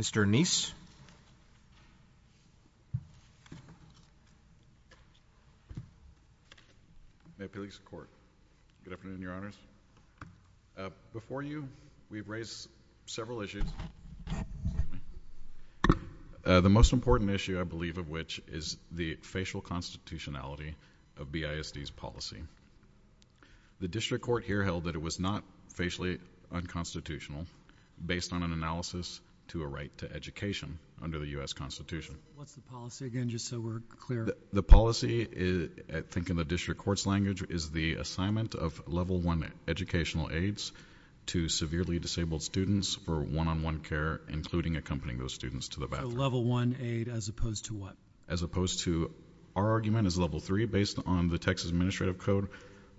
May it please the court. Good afternoon your honors. Before you we've raised several issues. The most important issue I believe of which is the facial constitutionality of BISD's policy. The district court here held that it was not facially unconstitutional based on an analysis to a right to education under the U.S. Constitution. What's the policy again just so we're clear? The policy I think in the district court's language is the assignment of level one educational aids to severely disabled students for one-on-one care including accompanying those students to the bathroom. So level one aid as opposed to what? As opposed to our argument is level three based on the Texas Administrative Code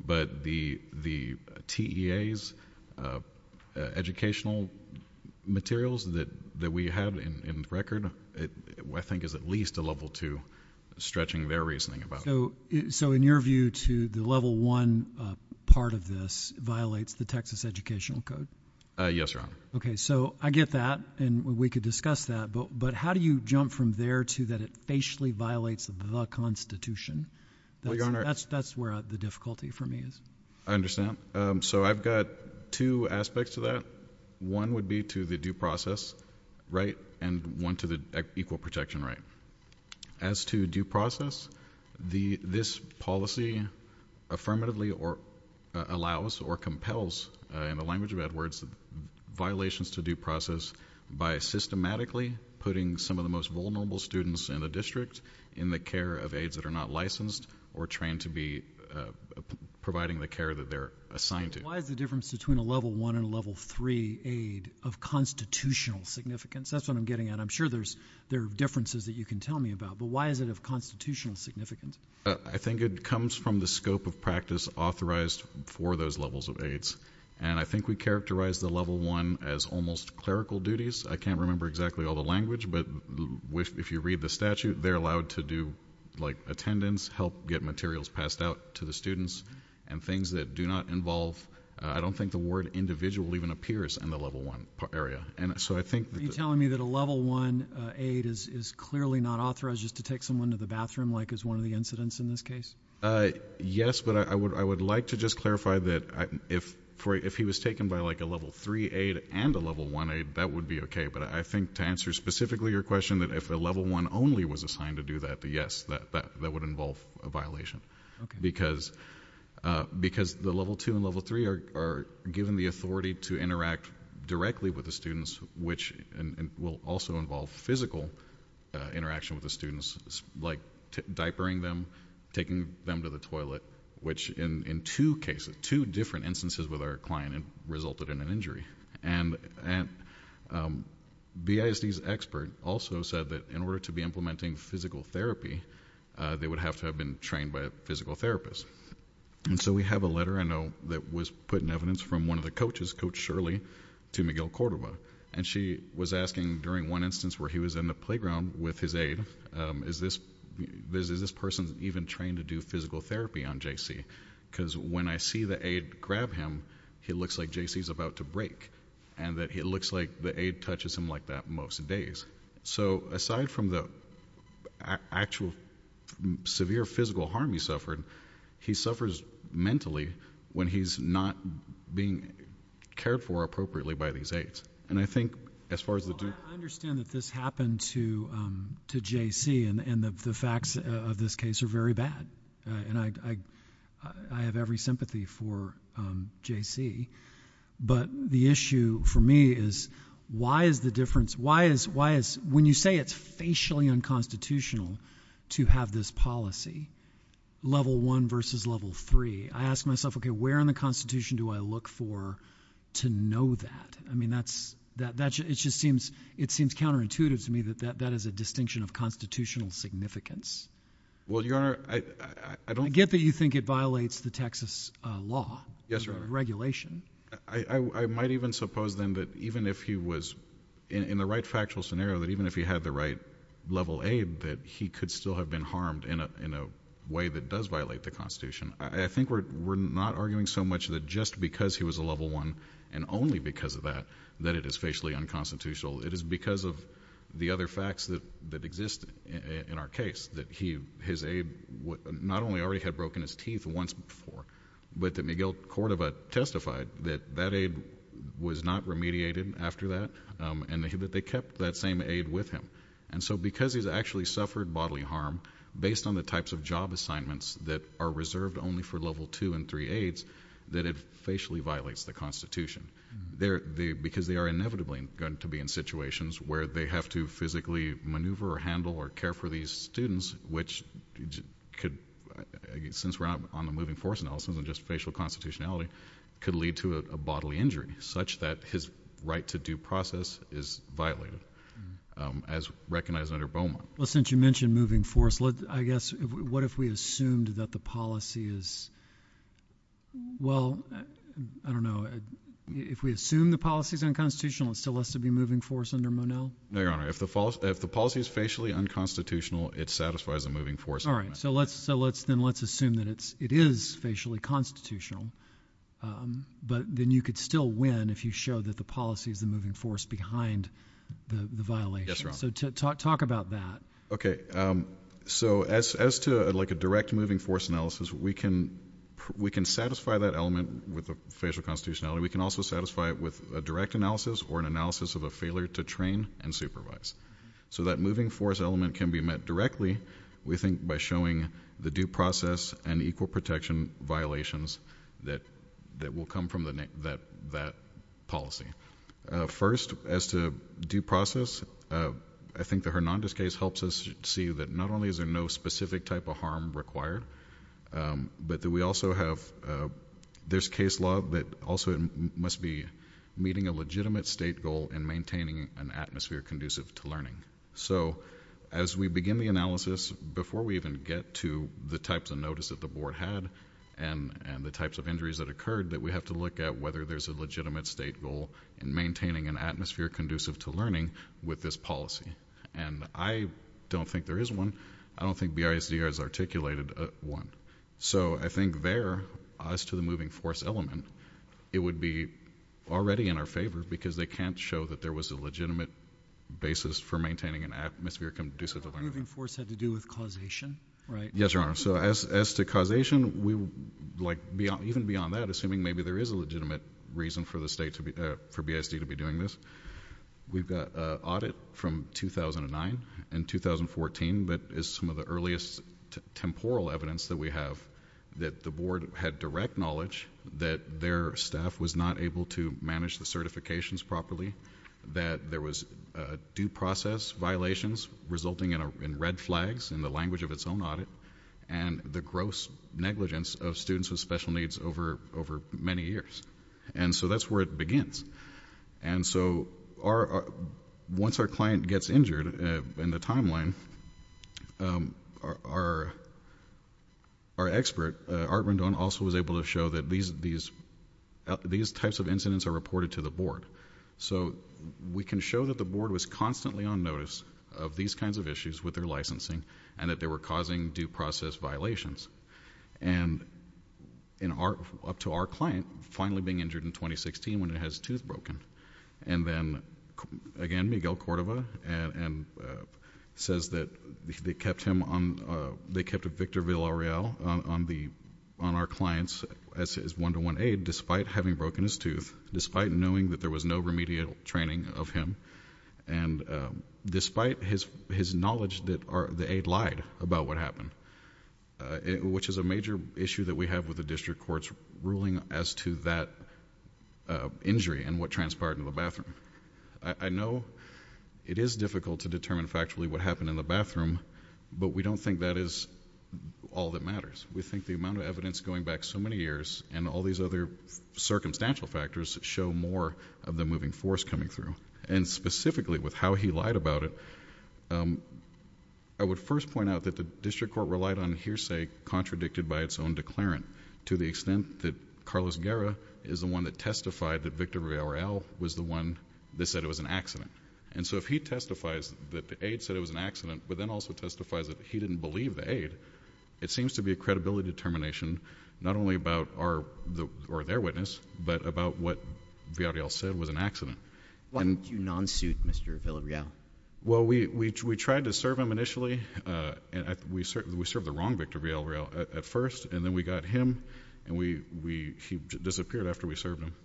but the the TEA's educational materials that that we have in the record I think is at least a level two stretching their reasoning about it. So in your view to the level one part of this violates the Texas Educational Code? Yes your honor. Okay so I get that and we could discuss that but but how do you jump from there to that it facially violates the Constitution? That's where the difficulty for me is. I got two aspects to that. One would be to the due process right and one to the equal protection right. As to due process the this policy affirmatively or allows or compels in the language of Edwards violations to due process by systematically putting some of the most vulnerable students in the district in the care of aids that are not licensed or trained to be providing the care that they're assigned to. Why is the difference between a level one and level three aid of constitutional significance? That's what I'm getting at. I'm sure there's there differences that you can tell me about but why is it of constitutional significance? I think it comes from the scope of practice authorized for those levels of aids and I think we characterize the level one as almost clerical duties. I can't remember exactly all the language but if you read the statute they're allowed to do like attendance help get materials passed out to the students and things that do not involve I don't think the word individual even appears in the level one area. Are you telling me that a level one aid is clearly not authorized just to take someone to the bathroom like is one of the incidents in this case? Yes but I would I would like to just clarify that if for if he was taken by like a level three aid and a level one aid that would be okay but I think to answer specifically your question that if a level one only was assigned to do that yes that that would involve a violation because because the level two and level three are given the authority to interact directly with the students which and will also involve physical interaction with the students like diapering them taking them to the toilet which in in two cases two different instances with our client and resulted in an injury and and BISD's expert also said that in order to be physical therapy they would have to have been trained by a physical therapist and so we have a letter I know that was put in evidence from one of the coaches coach Shirley to Miguel Cordova and she was asking during one instance where he was in the playground with his aid is this this is this person even trained to do physical therapy on JC because when I see the aid grab him he looks like JC's about to break and that it looks like the aid touches him like that most days so aside from the actual severe physical harm he suffered he suffers mentally when he's not being cared for appropriately by these aids and I think as far as the I understand that this happened to to JC and and the facts of this case are very bad and I I have every sympathy for JC but the issue for me is why is the difference why is why is when you say it's facially unconstitutional to have this policy level one versus level three I ask myself okay where in the Constitution do I look for to know that I mean that's that that's it just seems it seems counterintuitive to me that that that is a distinction of constitutional significance well you are I don't get that you think it violates the Texas law yes regulation I I might even suppose then that even if he was in the right factual scenario that even if he had the right level aid that he could still have been harmed in a in a way that does violate the Constitution I think we're not arguing so much that just because he was a level one and only because of that that it is facially unconstitutional it is because of the other facts that that exist in our case that he his aid what not only already had broken his teeth once before but that Miguel Cordova testified that that aid was not remediated after that and that they kept that same aid with him and so because he's actually suffered bodily harm based on the types of job assignments that are reserved only for level two and three aids that it facially violates the Constitution there the because they are inevitably going to be in situations where they have to physically maneuver or handle or care for these students which could since we're on the moving force analysis and just facial constitutionality could lead to a bodily injury such that his right to due process is violated as recognized under Beaumont well since you mentioned moving force let I guess what if we assumed that the policy is well I don't know if we assume the policy is unconstitutional it still has to be moving force under Monell no your honor if the false if the policy is facially unconstitutional it satisfies a moving force all right so let's so let's then let's assume that it's it is facially constitutional but then you could still win if you show that the policy is the moving force behind the violation so to talk about that okay so as to like a direct moving force analysis we can we can satisfy that element with the facial constitutionality we can also satisfy it with a direct analysis or an analysis of a failure to train and supervise so that moving force element can be met directly we think by showing the due process and equal protection violations that that will come from the neck that that policy first as to due process I think the Hernandez case helps us see that not only is there no specific type of harm required but that we also have this case law that also must be meeting a legitimate state goal and maintaining an atmosphere conducive to learning so as we begin the analysis before we even get to the types of notice that the board had and and the types of injuries that occurred that we have to look at whether there's a legitimate state goal in maintaining an atmosphere conducive to learning with this policy and I don't think there is one I don't think the ISD has articulated one so I think there as to the moving force element it would be already in our favor because they can't show that there was a legitimate basis for maintaining an atmosphere conducive force had to do with causation right yes your honor so as to causation we like beyond even beyond that assuming maybe there is a legitimate reason for the state to be there for BSD to be doing this we've got audit from 2009 and 2014 but is some of the earliest temporal evidence that we have that the board had direct knowledge that their staff was not able to manage the certifications properly that there was due process violations resulting in a red flags in the language of its own audit and the gross negligence of students with special needs over over many years and so that's where it begins and so our once our client gets injured in the timeline our our expert art rundown also was able to show that these these these types of incidents are reported to the board so we can show that the board was constantly on notice of these kinds of issues with their licensing and that they were causing due process violations and in our up to our client finally being injured in 2016 when it has tooth broken and then again Miguel Cordova and and says that they kept him on they kept a Victor Villarreal on the on our clients as his one-to-one aid despite having broken his tooth despite knowing that there was no remedial training of him and despite his his knowledge that are the aid lied about what happened it which is a major issue that we have with the district courts ruling as to that injury and what transpired in the bathroom I know it is difficult to determine factually what happened in the bathroom but we don't think that is all that matters we think the amount of incidents going back so many years and all these other circumstantial factors show more of the moving force coming through and specifically with how he lied about it I would first point out that the district court relied on hearsay contradicted by its own declarant to the extent that Carlos Guerra is the one that testified that Victor Villarreal was the one that said it was an accident and so if he testifies that the aid said it was an accident but then also testifies that he didn't believe the aid it seems to be a credibility determination not only about our or their witness but about what Villarreal said was an accident. Why didn't you non-suit Mr. Villarreal? Well we tried to serve him initially and we served the wrong Victor Villarreal at first and then we got him and he disappeared after we served him.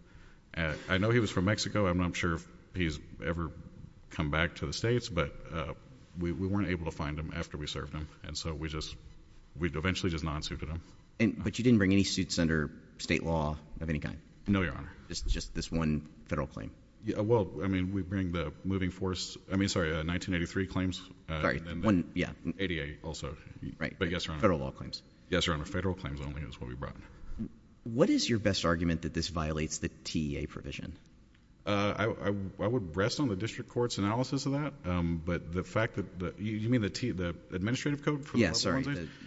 I know he was from Mexico I'm not sure if he's ever come back to the States but we weren't able to find him after we served him and so we just we eventually just non-suited him. And but you didn't bring any suits under state law of any kind? No your honor. It's just this one federal claim? Yeah well I mean we bring the moving force I mean sorry 1983 claims. Sorry one yeah. ADA also. Right. But yes your honor. Federal law claims. Yes your honor federal claims only is what we brought. What is your best argument that this violates the TEA provision? I would rest on the district courts analysis of that but the fact that you mean the the administrative code? Yes.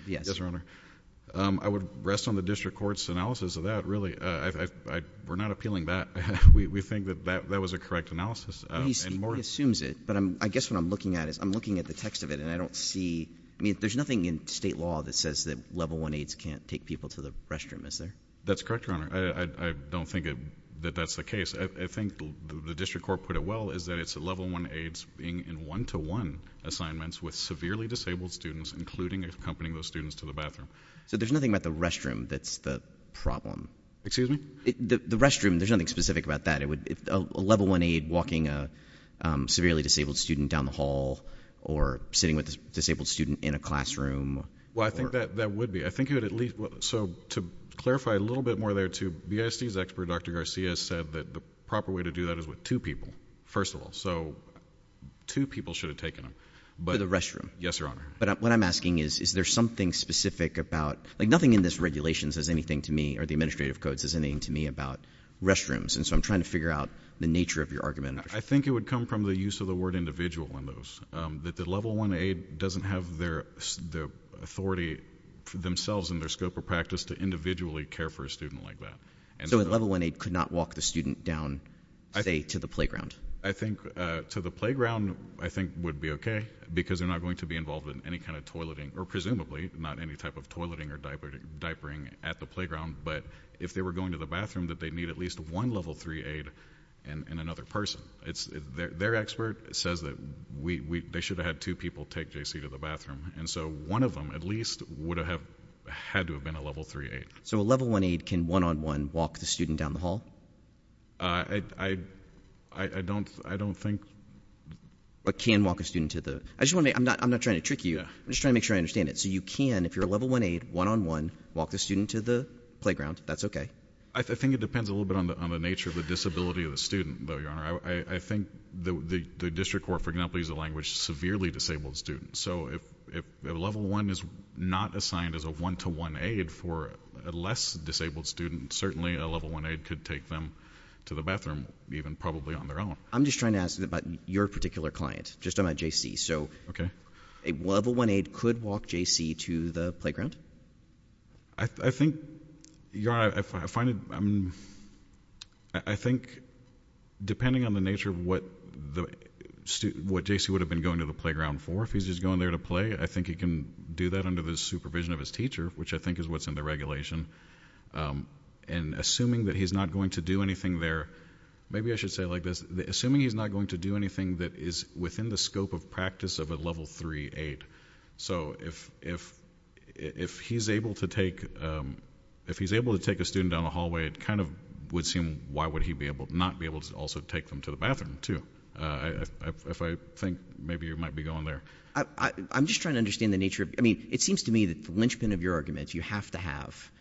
Yes your honor. I would rest on the district courts analysis of that really. We're not appealing that. We think that that that was a correct analysis. He assumes it but I'm I guess what I'm looking at is I'm looking at the text of it and I don't see I mean there's nothing in state law that says that level one aides can't take people to the restroom is there? That's correct your honor. I don't think that that's the case. I think the district court put it well is that it's a level one aides being in one-to-one assignments with severely disabled students including accompanying those students to the bathroom. So there's nothing about the restroom that's the problem? Excuse me? The restroom there's nothing specific about that it would if a level one aide walking a severely disabled student down the hall or sitting with a disabled student in a classroom? Well I think that that would be I think you would at least so to clarify a little bit more there to BISD's expert Dr. Garcia said that the proper way to do that is with two people first of all so two people should have taken them but the restroom yes your honor but what I'm asking is is there something specific about like nothing in this regulations has anything to me or the administrative codes is anything to me about restrooms and so I'm trying to figure out the nature of your argument. I think it would come from the use of the word individual in those that the level one aide doesn't have their the authority for themselves in their scope of practice to individually care for a student like that. So a level one aide could not walk the student down say to the playground? I think to the playground I think would be okay because they're not going to be involved in any kind of toileting or presumably not any type of toileting or diapering at the playground but if they were going to the bathroom that they need at least one level three aide and another person it's their expert says that we they should have had two people take JC to the bathroom and so one of them at least would have had to have been a level three aide. So a level one aide can one on one walk the student down the hall? I I don't I don't think. But can walk a student to the I just want to I'm not I'm not trying to trick you I'm just trying to make sure I understand it so you can if you're a level one aide one on one walk the student to the playground that's okay. I think it depends a little bit on the on the nature of the disability of the student though your honor I think the the district court for example is a language severely disabled student so if level one is not assigned as a one-to-one aide for a less disabled student certainly a level one aide could take them to the bathroom even probably on their own. I'm just trying to ask you about your particular client just I'm at JC so okay a level one aide could walk JC to the playground? I think your honor I find it I mean I think depending on the nature of what the student what JC would have been going to the playground for if he's just going there to play I think he can do that under the supervision of his teacher which I think is what's in the regulation and assuming that he's not going to do anything there maybe I should say like this the assuming he's not going to do anything that is within the scope of practice of a level three aide so if if if he's able to take if he's able to take a student down the hallway it kind of would seem why would he be able to not be able to also take them to the bathroom too if I think maybe you might be going there. I'm just trying to understand the nature of I mean it seems to me that the linchpin of your arguments you have to have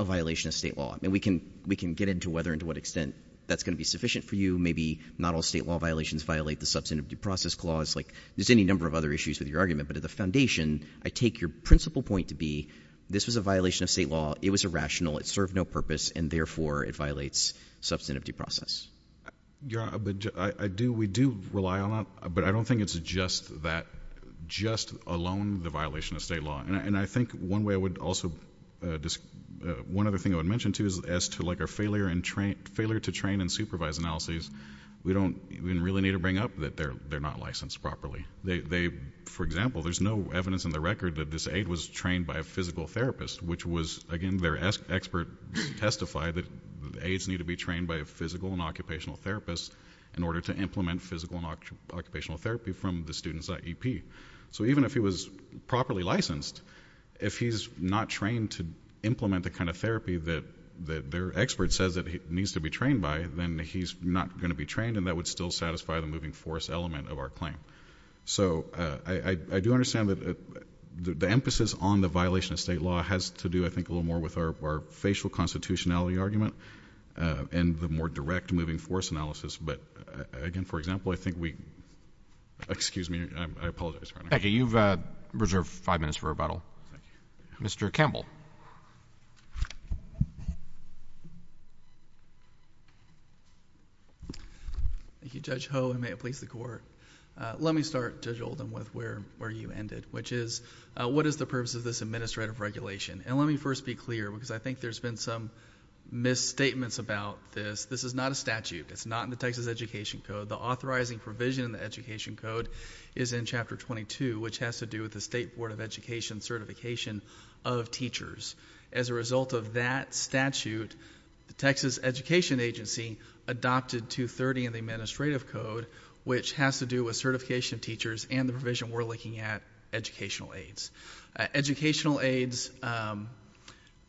a violation of state law and we can we can get into whether into what extent that's going to be sufficient for you maybe not all state law violations violate the substantive due process clause like there's any number of other issues with your argument but at the foundation I take your principal point to be this was a violation of state law it was irrational it served no purpose and therefore it violates substantive due process. Your honor I do we do rely on it but I don't think it's just that just alone the violation of state law and I think one way I would also just one other thing I would mention too is as to like our failure and train failure to train and supervise analyses we don't even really need to bring up that they're they're not licensed properly they for example there's no evidence in the record that this aide was trained by a physical therapist which was again their expert testified that aides need to be trained by a physical and occupational therapist in order to implement physical and occupational therapy from the students at EP so even if he was properly licensed if he's not trained to implement the kind of therapy that that their expert says that he needs to be trained by then he's not going to be trained and that would still satisfy the moving force element of our claim so I do understand that the emphasis on the violation of state law has to do I think a little more with our facial constitutionality argument and the more direct moving force analysis but again for example I think we excuse me I apologize okay you've reserved five minutes for rebuttal mr. Campbell thank you judge ho and may it please the court let me start to Joel them with where where you ended which is what is the purpose of this administrative regulation and let me first be clear because I think there's been some misstatements about this this is not a statute it's not in the Texas Education Code the authorizing provision in the Education Code is in chapter 22 which has to do with the State Board of Education certification of teachers as a result of that statute the Texas Education Agency adopted 230 in the administrative code which has to do with certification teachers and the provision we're looking at educational aides educational aides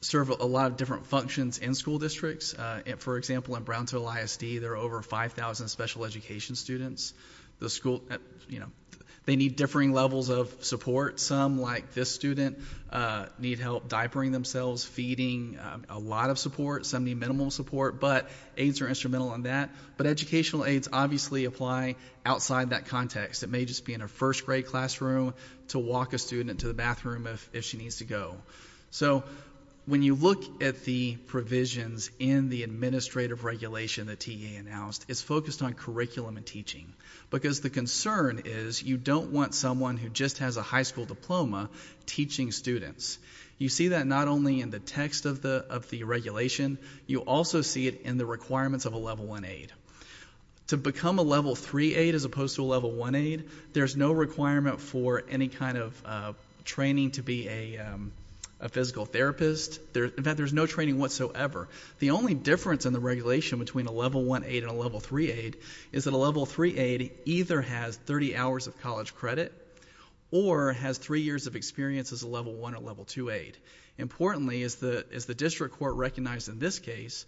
serve a lot of different functions in school districts and for example in Brownsville ISD there are over 5,000 special education students the school you know they need differing levels of support some like this student need help diapering themselves feeding a lot of support some need minimal support but aides are instrumental on that but educational aides obviously apply outside that context it may just be in a first grade classroom to walk a student to the bathroom if she needs to go so when you look at the provisions in the administrative regulation the TA announced it's focused on curriculum and teaching because the concern is you don't want someone who just has a high school diploma teaching students you see that not only in the text of the of the regulation you also see it in the requirements of a level 1 aid to become a level 3 aid as opposed to a level 1 aid there's no requirement for any kind of training to be a physical therapist there's no training whatsoever the only difference in the regulation between a level 1 aid and a level 3 aid is that a level 3 aid either has 30 hours of college credit or has three years of experience as a level 1 or level 2 aid importantly is the is the district court recognized in this case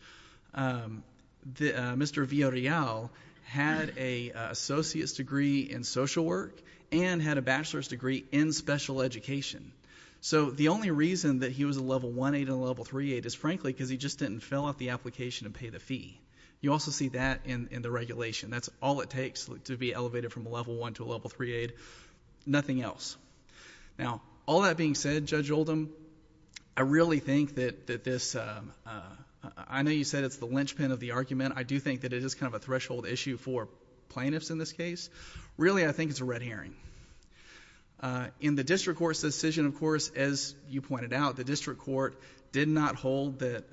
the Mr. Villarreal had a associate's degree in social work and had a bachelor's degree in special education so the only reason that he was a level 1 aid and a level 3 aid is frankly because he just didn't fill out the application and pay the fee you also see that in the regulation that's all it takes to be elevated from a level 1 to a level 3 aid nothing else now all that being said Judge Oldham I really think that that this I know you said it's the linchpin of the argument I do think that it is kind of a threshold issue for plaintiffs in this case really I think it's a red herring in the district court's decision of course as you pointed out the district court did not hold that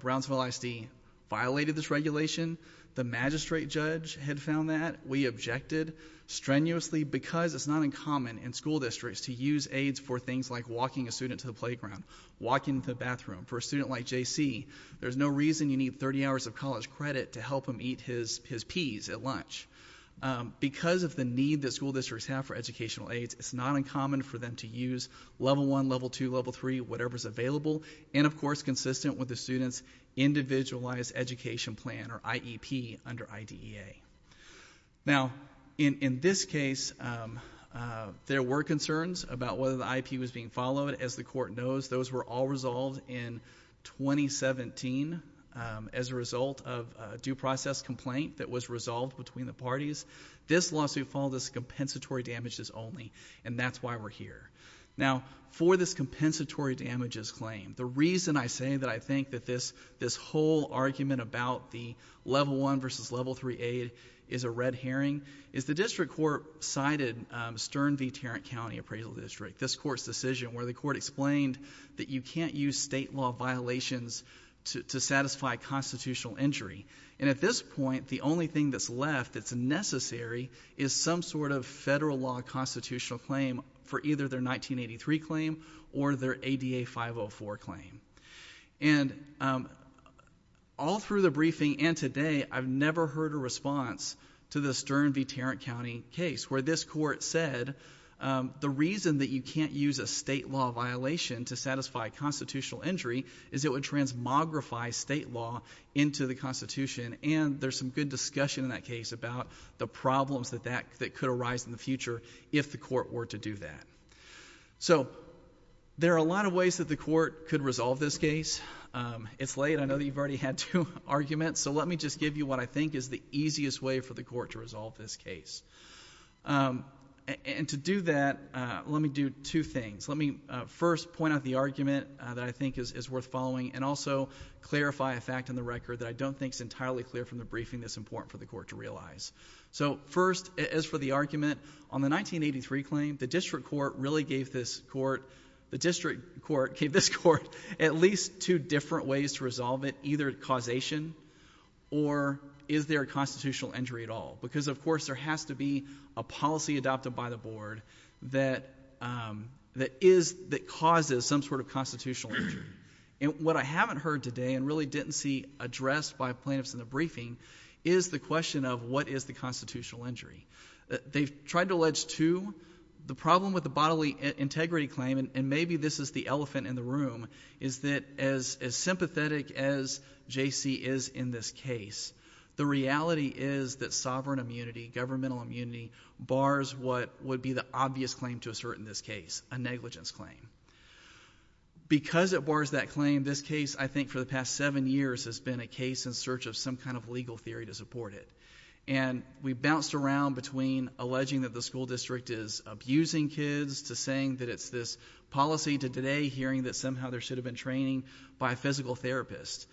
Brownsville ISD violated this regulation the magistrate judge had found that we objected strenuously because it's not uncommon in school districts to use aids for things like walking a student to the playground walking to the bathroom for a student like JC there's no reason you need 30 hours of college credit to help him eat his his peas at lunch because of the need that school districts have for educational aids it's not uncommon for them to use level 1 level 2 level 3 whatever's available and of course consistent with the students individualized education plan or IEP under IDEA now in in this case there were concerns about whether the IP was being followed as the court knows those were all resolved in 2017 as a result of due process complaint that was resolved between the parties this lawsuit fall this compensatory damages only and that's why we're here now for this compensatory damages claim the reason I say that I think that this this whole argument about the level 1 versus level 3 aid is a red herring is the district court cited Stern v. Tarrant County appraisal district this court's decision where the court explained that you can't use state law violations to satisfy constitutional injury and at this point the only thing that's left that's necessary is some sort of federal law constitutional claim for either their 1983 claim or their ADA 504 claim and all through the briefing and today I've never heard a response to the Stern v. Tarrant County case where this court said the reason that you can't use a state law violation to satisfy constitutional injury is it would transmogrify state law into the there's some good discussion in that case about the problems that that that could arise in the future if the court were to do that so there are a lot of ways that the court could resolve this case it's late I know that you've already had two arguments so let me just give you what I think is the easiest way for the court to resolve this case and to do that let me do two things let me first point out the argument that I think is worth following and also clarify a fact in the record that I don't think is entirely clear from the briefing that's important for the court to realize so first as for the argument on the 1983 claim the district court really gave this court the district court gave this court at least two different ways to resolve it either causation or is there a constitutional injury at all because of course there has to be a policy adopted by the board that that is that causes some sort of constitutional injury and what I haven't heard today and really didn't see addressed by plaintiffs in the briefing is the question of what is the constitutional injury they've tried to allege to the problem with the bodily integrity claim and maybe this is the elephant in the room is that as as sympathetic as JC is in this case the reality is that sovereign immunity governmental immunity bars what would be the obvious claim to assert in this case a negligence claim because it bars that claim this case I think for the past seven years has been a case in search of some kind of legal theory to support it and we bounced around between alleging that the school district is abusing kids to saying that it's this policy to today hearing that somehow there should have been training by a physical therapist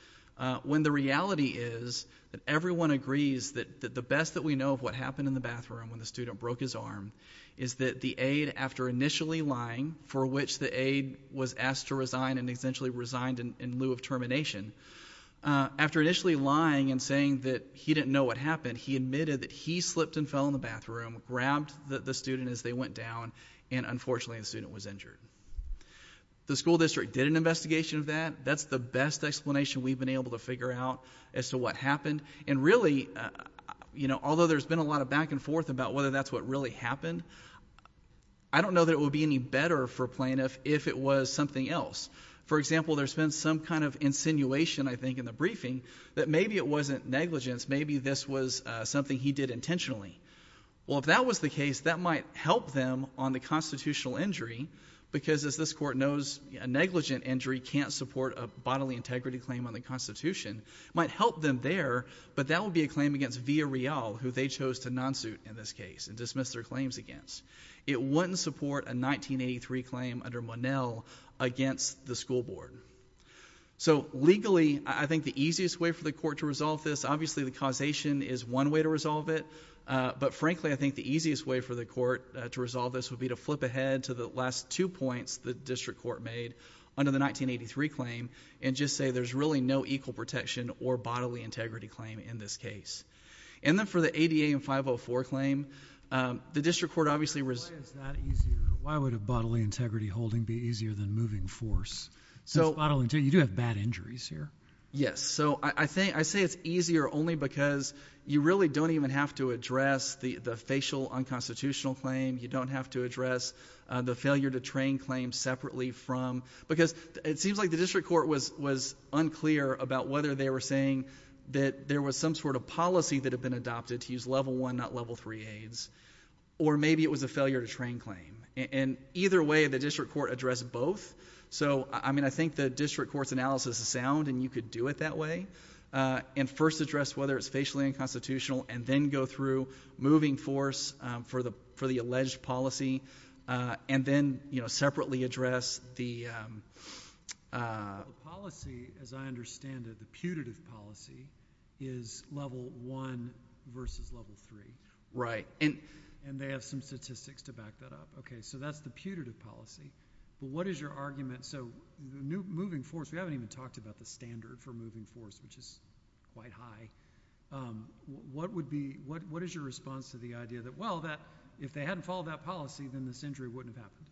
when the reality is that everyone agrees that the best that we know of what happened in the bathroom when the aide after initially lying for which the aide was asked to resign and essentially resigned in lieu of termination after initially lying and saying that he didn't know what happened he admitted that he slipped and fell in the bathroom grabbed that the student as they went down and unfortunately the student was injured the school district did an investigation of that that's the best explanation we've been able to figure out as to what happened and really you know although there's been a lot of back and forth about whether that's what really happened I don't know that it would be any better for plaintiff if it was something else for example there's been some kind of insinuation I think in the briefing that maybe it wasn't negligence maybe this was something he did intentionally well if that was the case that might help them on the constitutional injury because as this court knows a negligent injury can't support a bodily integrity claim on the Constitution might help them there but that would be a claim against via real who they chose to in this case and dismiss their claims against it wouldn't support a 1983 claim under Monell against the school board so legally I think the easiest way for the court to resolve this obviously the causation is one way to resolve it but frankly I think the easiest way for the court to resolve this would be to flip ahead to the last two points the district court made under the 1983 claim and just say there's really no equal protection or bodily integrity claim in this case and then for the ADA and 504 claim the district court obviously was that easier why would a bodily integrity holding be easier than moving force so bodily to you do have bad injuries here yes so I think I say it's easier only because you really don't even have to address the the facial unconstitutional claim you don't have to address the failure to train claims separately from because it seems like the district court was was unclear about whether they were saying that there was some sort of policy that have been adopted to use level 1 not level 3 aids or maybe it was a failure to train claim and either way the district court address both so I mean I think the district court's analysis is sound and you could do it that way and first address whether it's facially unconstitutional and then go through moving force for the for the alleged policy and then you know separately address the policy as I understand it the putative policy is level 1 versus level 3 right in and they have some statistics to back that up okay so that's the putative policy but what is your argument so the new moving force we haven't even talked about the standard for moving force which is quite high what would be what what is your response to the idea that well that if they hadn't followed that policy then this injury wouldn't happen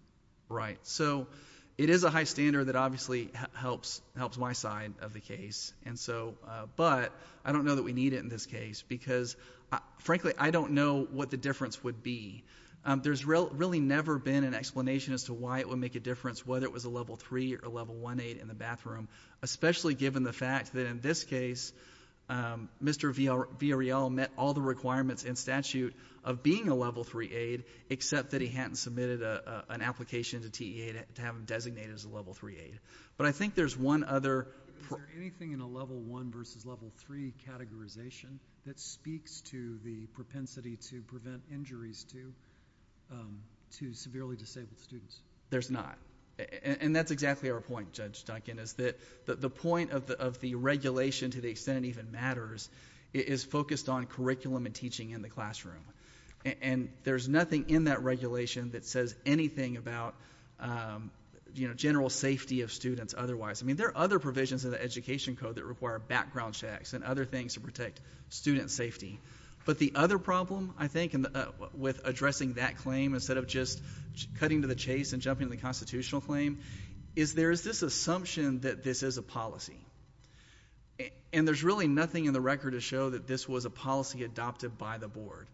right so it is a high standard that obviously helps helps my side of the case and so but I don't know that we need it in this case because frankly I don't know what the difference would be there's real really never been an explanation as to why it would make a difference whether it was a level 3 or level 1 aid in the bathroom especially given the fact that in this case mr. VRL met all the requirements in statute of being a level 3 aid except that he hadn't submitted an application to TEA to have designated as level 3 aid but I think there's one other anything in a level 1 versus level 3 categorization that speaks to the propensity to prevent injuries to to severely disabled students there's not and that's exactly our point judge Duncan is that the point of the of the regulation to the extent even matters is focused on curriculum and teaching in the classroom and there's nothing in that regulation that says anything about general safety of students otherwise I mean there are other provisions of the education code that require background checks and other things to protect student safety but the other problem I think with addressing that claim instead of just cutting to the chase and jumping the constitutional claim is there is this assumption that this is a policy and there's really nothing in the record to show that this was a policy adopted by the board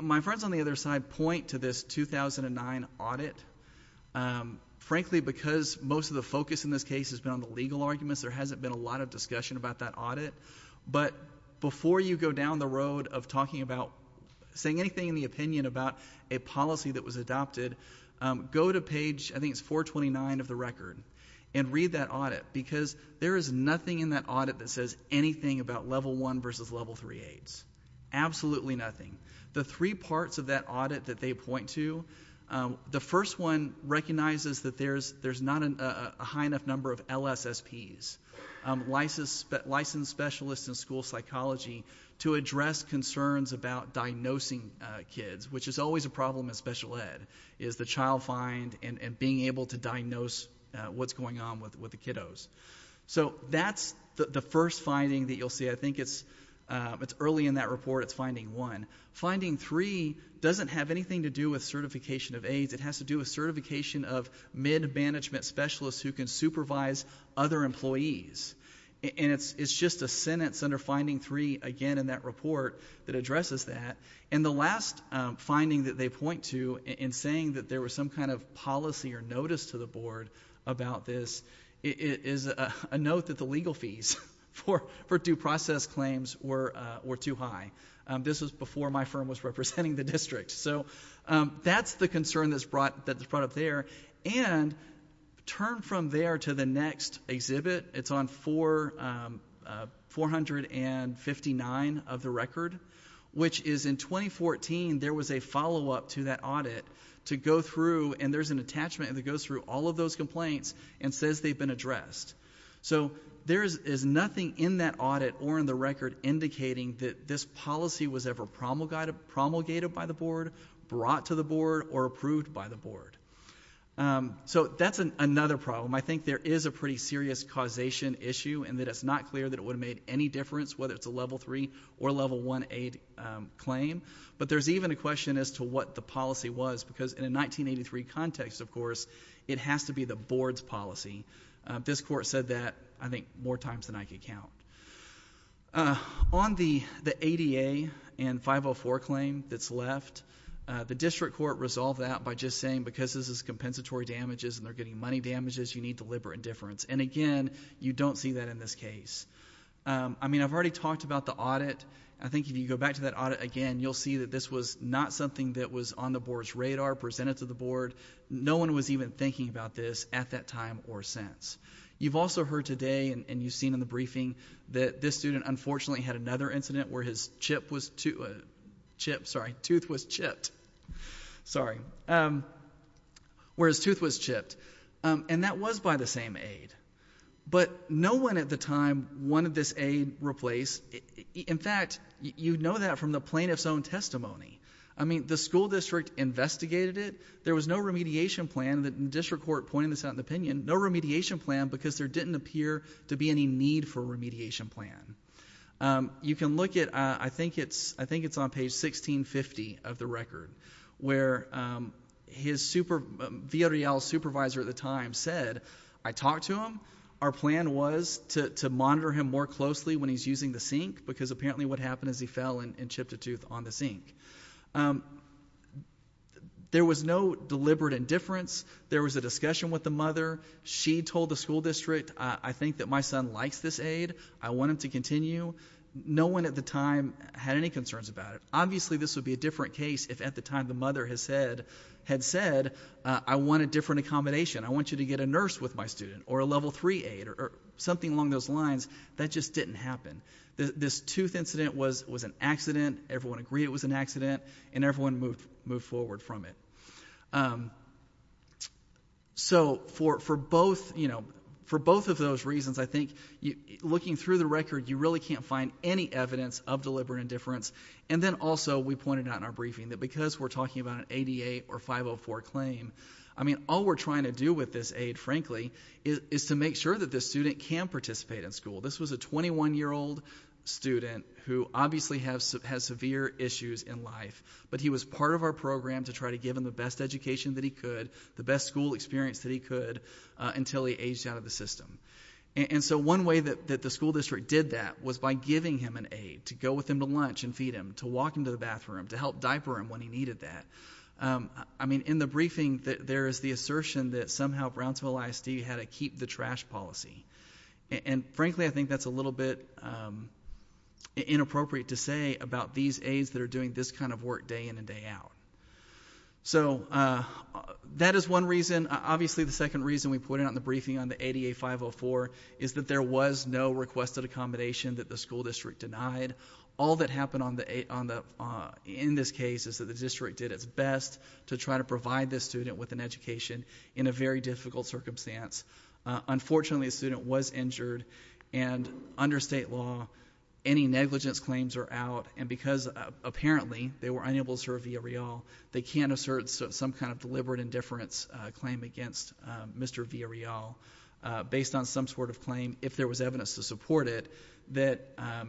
my friends on the other side point to this 2009 audit frankly because most of the focus in this case has been on the legal arguments there hasn't been a lot of discussion about that audit but before you go down the road of talking about saying anything in the opinion about a policy that was adopted go to page I think it's 429 of the record and read that audit because there is nothing in that audit that says anything about level one versus level three aids absolutely nothing the three parts of that audit that they point to the first one recognizes that there's there's not a high enough number of LSSP's licensed specialist in school psychology to address concerns about diagnosing kids which is always a problem in special ed is the child find and and being able to diagnose what's going on with with the kiddos so that's the first finding that you'll see I think it's early in that report it's finding one finding three doesn't have anything to do with certification of aids it has to do a certification of mid management specialist who can supervise other employees and it's it's just a sentence under finding three again in that report that addresses that and the last finding that they point to in saying that there was some kind of notice to the board about this it is a note that the legal fees for for due process claims were or too high this was before my firm was representing the district so that's the concern that's brought that the product there and turn from there to the next exhibit it's on four four hundred and fifty nine of the record which is in 2014 there was a follow-up to that audit to go through and there's an attachment that goes through all of those complaints and says they've been addressed so there is nothing in that audit or in the record indicating that this policy was ever promulgated by the board brought to the board or approved by the board so that's an another problem I think there is a pretty serious causation issue and that it's not clear that would make any difference whether it's a level three or level one aid claim but there's even a question as to what the policy was because in a 1983 context of course it has to be the board's policy this court said that I think more times than I can count on the the ADA and 504 claim that's left the district court resolved that by just saying because this is compensatory damages and they're getting money damages you need deliberate indifference and again you don't see that in this case I mean I've already talked about the audit I think if you go back to that audit again you'll see that this was not something that was on the board's radar presented to the board no one was even thinking about this at that time or sense you've also heard today and you've seen in the briefing that this student unfortunately had another incident where his chip was to chip sorry tooth was chipped sorry where his tooth was chipped and that was by the same aid but no one at the time wanted this aid replaced in fact you know that from the plaintiff's own testimony I mean the school district investigated it there was no remediation plan that in district court pointing this out in opinion no remediation plan because there didn't appear to be any need for remediation plan you can look at I think it's I think it's on page 16 50 of the record where his super via real supervisor at the time said I talked to him our plan was to monitor him more closely when he's using the sink because apparently what happened is he fell in and chipped a tooth on the sink there was no deliberate indifference there was a discussion with the mother she told the school district I think that my son likes this aid I want him to continue no one at the time had any concerns about it obviously this would be a different case if at the time the mother has said had said I want a different accommodation I want you to get a nurse with my student or a level three aid or something along those lines that just didn't happen this tooth incident was was an accident everyone agree it was an accident and everyone moved moved forward from it so for for both you know for both of those reasons I think you looking through the record you really can't find any evidence of deliberate indifference and then also we pointed out in our briefing that because we're talking about an 88 or 504 claim I mean all we're trying to do with this aid frankly is to make sure that this student can participate in school this was a 21 year old student who obviously has severe issues in life but he was part of our program to try to give him the best education that he could the best school experience that he could until he aged out of the system and so one way that the school district did that was by giving him an aid to go with him to lunch and feed him to walk him to the bathroom to help diaper him when he needed that I mean in the briefing that there is the assertion that somehow Brownsville ISD had to keep the trash policy and frankly I think that's a little bit inappropriate to say about these aides that are doing this kind of work day in and day out so that is one reason obviously the second reason we put it on the briefing on the 88 504 is that there was no requested accommodation that the school district denied all that happened on the 8 on the in this case is that the district did its best to try to provide this student with an education in a very difficult circumstance unfortunately a student was injured and under state law any negligence claims are out and because apparently they were unable to serve via real they can assert some kind of deliberate indifference claim against mr. via real based on some sort of claim if there was evidence to support it that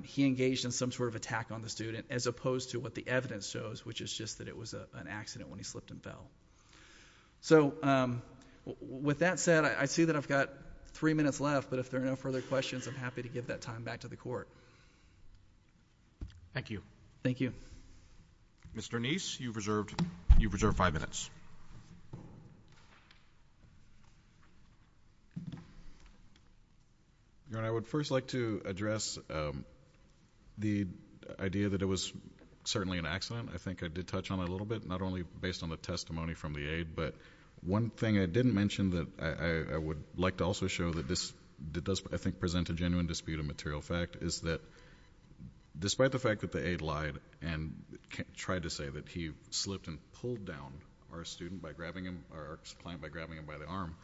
he engaged in some sort of attack on the student as opposed to what the evidence shows which is just that it was an accident when he slipped and fell so with that said I see that I've got three minutes left but if there are no further questions I'm happy to give that time back to the court thank you thank you mr. nice you've reserved you preserve five minutes I would first like to address the idea that it was certainly an accident I think I did touch on a little bit not only based on the testimony from the aid but one thing I didn't mention that I would like to also show that this does I think present a genuine dispute of material fact is that despite the fact that the aid lied and tried to say that he slipped and pulled down our student by grabbing him by grabbing him by the arm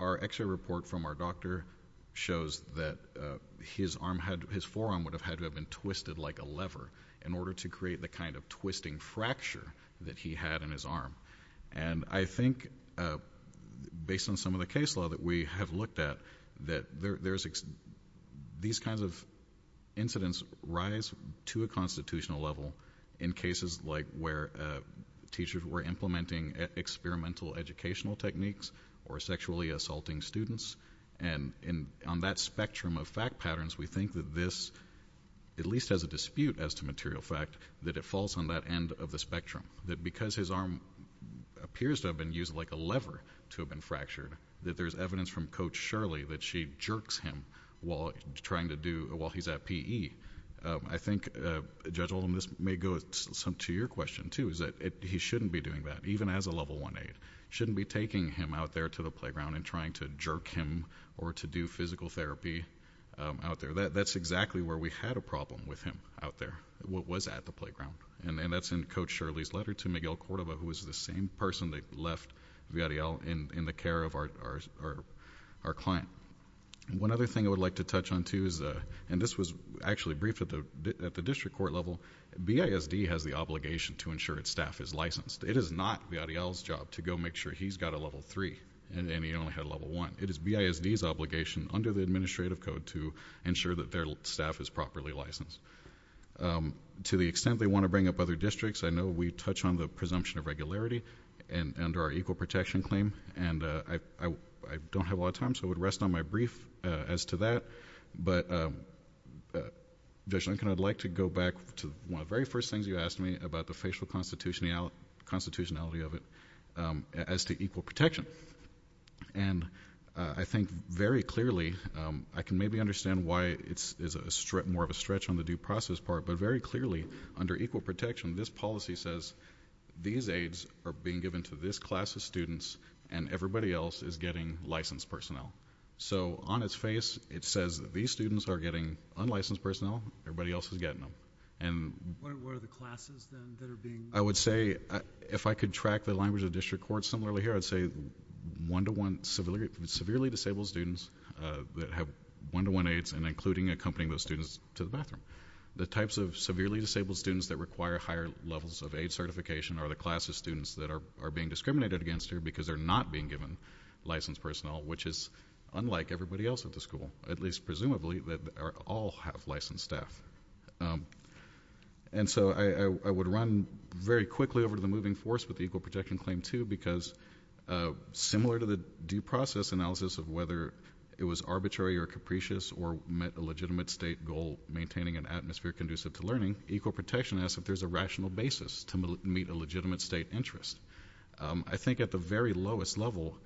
our extra report from our doctor shows that his arm had his forearm would have had to have been twisted like a fracture that he had in his arm and I think based on some of the case law that we have looked at that there's these kinds of incidents rise to a constitutional level in cases like where teachers were implementing experimental educational techniques or sexually assaulting students and in on that spectrum of fact patterns we think that this at least as a dispute as to material fact that it falls on that end of the spectrum that because his arm appears to have been used like a lever to have been fractured that there's evidence from coach Shirley that she jerks him while trying to do while he's at PE I think judge Olin this may go some to your question too is that it he shouldn't be doing that even as a level 1 aid shouldn't be taking him out there to the playground and trying to jerk him or to do physical therapy out there that that's exactly where we had a problem with him out there what was at the playground and that's in coach Shirley's letter to Miguel Cordova who was the same person that left in the care of our client one other thing I would like to touch on Tuesday and this was actually briefed at the at the district court level BISD has the obligation to ensure its staff is licensed it is not the job to go make sure he's got a level 3 and he only had level 1 it is BISD's obligation under the administrative code to ensure that their staff is properly licensed to the extent they want to bring up other districts I know we touch on the presumption of regularity and under our equal protection claim and I don't have a lot of time so it rest on my brief as to that but there's Lincoln I'd like to go back to one of very first things you asked me about the facial constitutionality of it as to equal protection and I think very clearly I can maybe understand why it's is a strip more of a stretch on the due process part but very clearly under equal protection this policy says these aids are being given to this class of students and everybody else is getting licensed personnel so on its face it says these students are getting unlicensed personnel everybody else is getting them and I would say if I could track the language of district court similarly here I'd say one-to-one severely severely disabled students that have one-to-one aids and including accompanying those students to the bathroom the types of severely disabled students that require higher levels of aid certification are the class of students that are being discriminated against here because they're not being given licensed personnel which is unlike everybody else at the school at least presumably that are all have licensed staff and so I would run very quickly over to the moving force with equal protection claim to because similar to the due process analysis of whether it was arbitrary or capricious or met a legitimate state goal maintaining an atmosphere conducive to learning equal protection as if there's a rational basis to meet a legitimate state interest I think at the very lowest level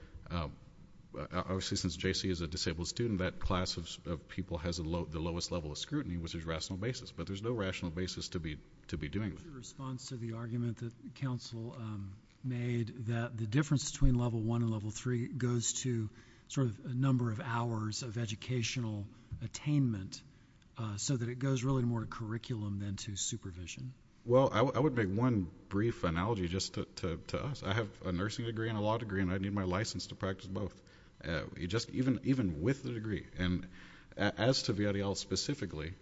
obviously since JC is a disabled student that class of people has a low the lowest level of scrutiny which is rational basis but there's no rational basis to be to be doing the response to the argument that counsel made that the difference between level one and level three goes to sort of a number of hours of educational attainment so that it goes really more curriculum than to supervision well I would make one brief analogy just to us I have a nursing degree and a law degree and I need my license to practice both you just even with the degree and as to VRL specifically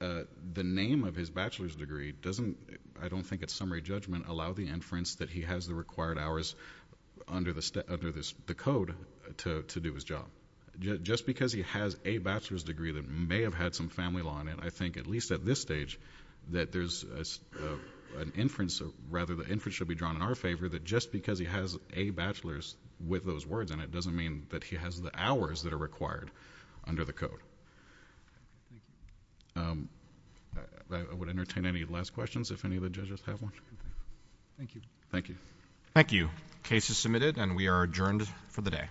the name of his bachelor's degree doesn't I don't think it's summary judgment allow the inference that he has the required hours under the step under this the code to do his job just because he has a bachelor's degree that may have had some family law on it I think at least at this stage that there's an inference of rather the inference should be drawn in our favor that just because he has a bachelor's with those words and it doesn't mean that he has the hours that are required under the code I would entertain any last questions if any of the judges have one thank you thank you thank you cases submitted and we are adjourned for the day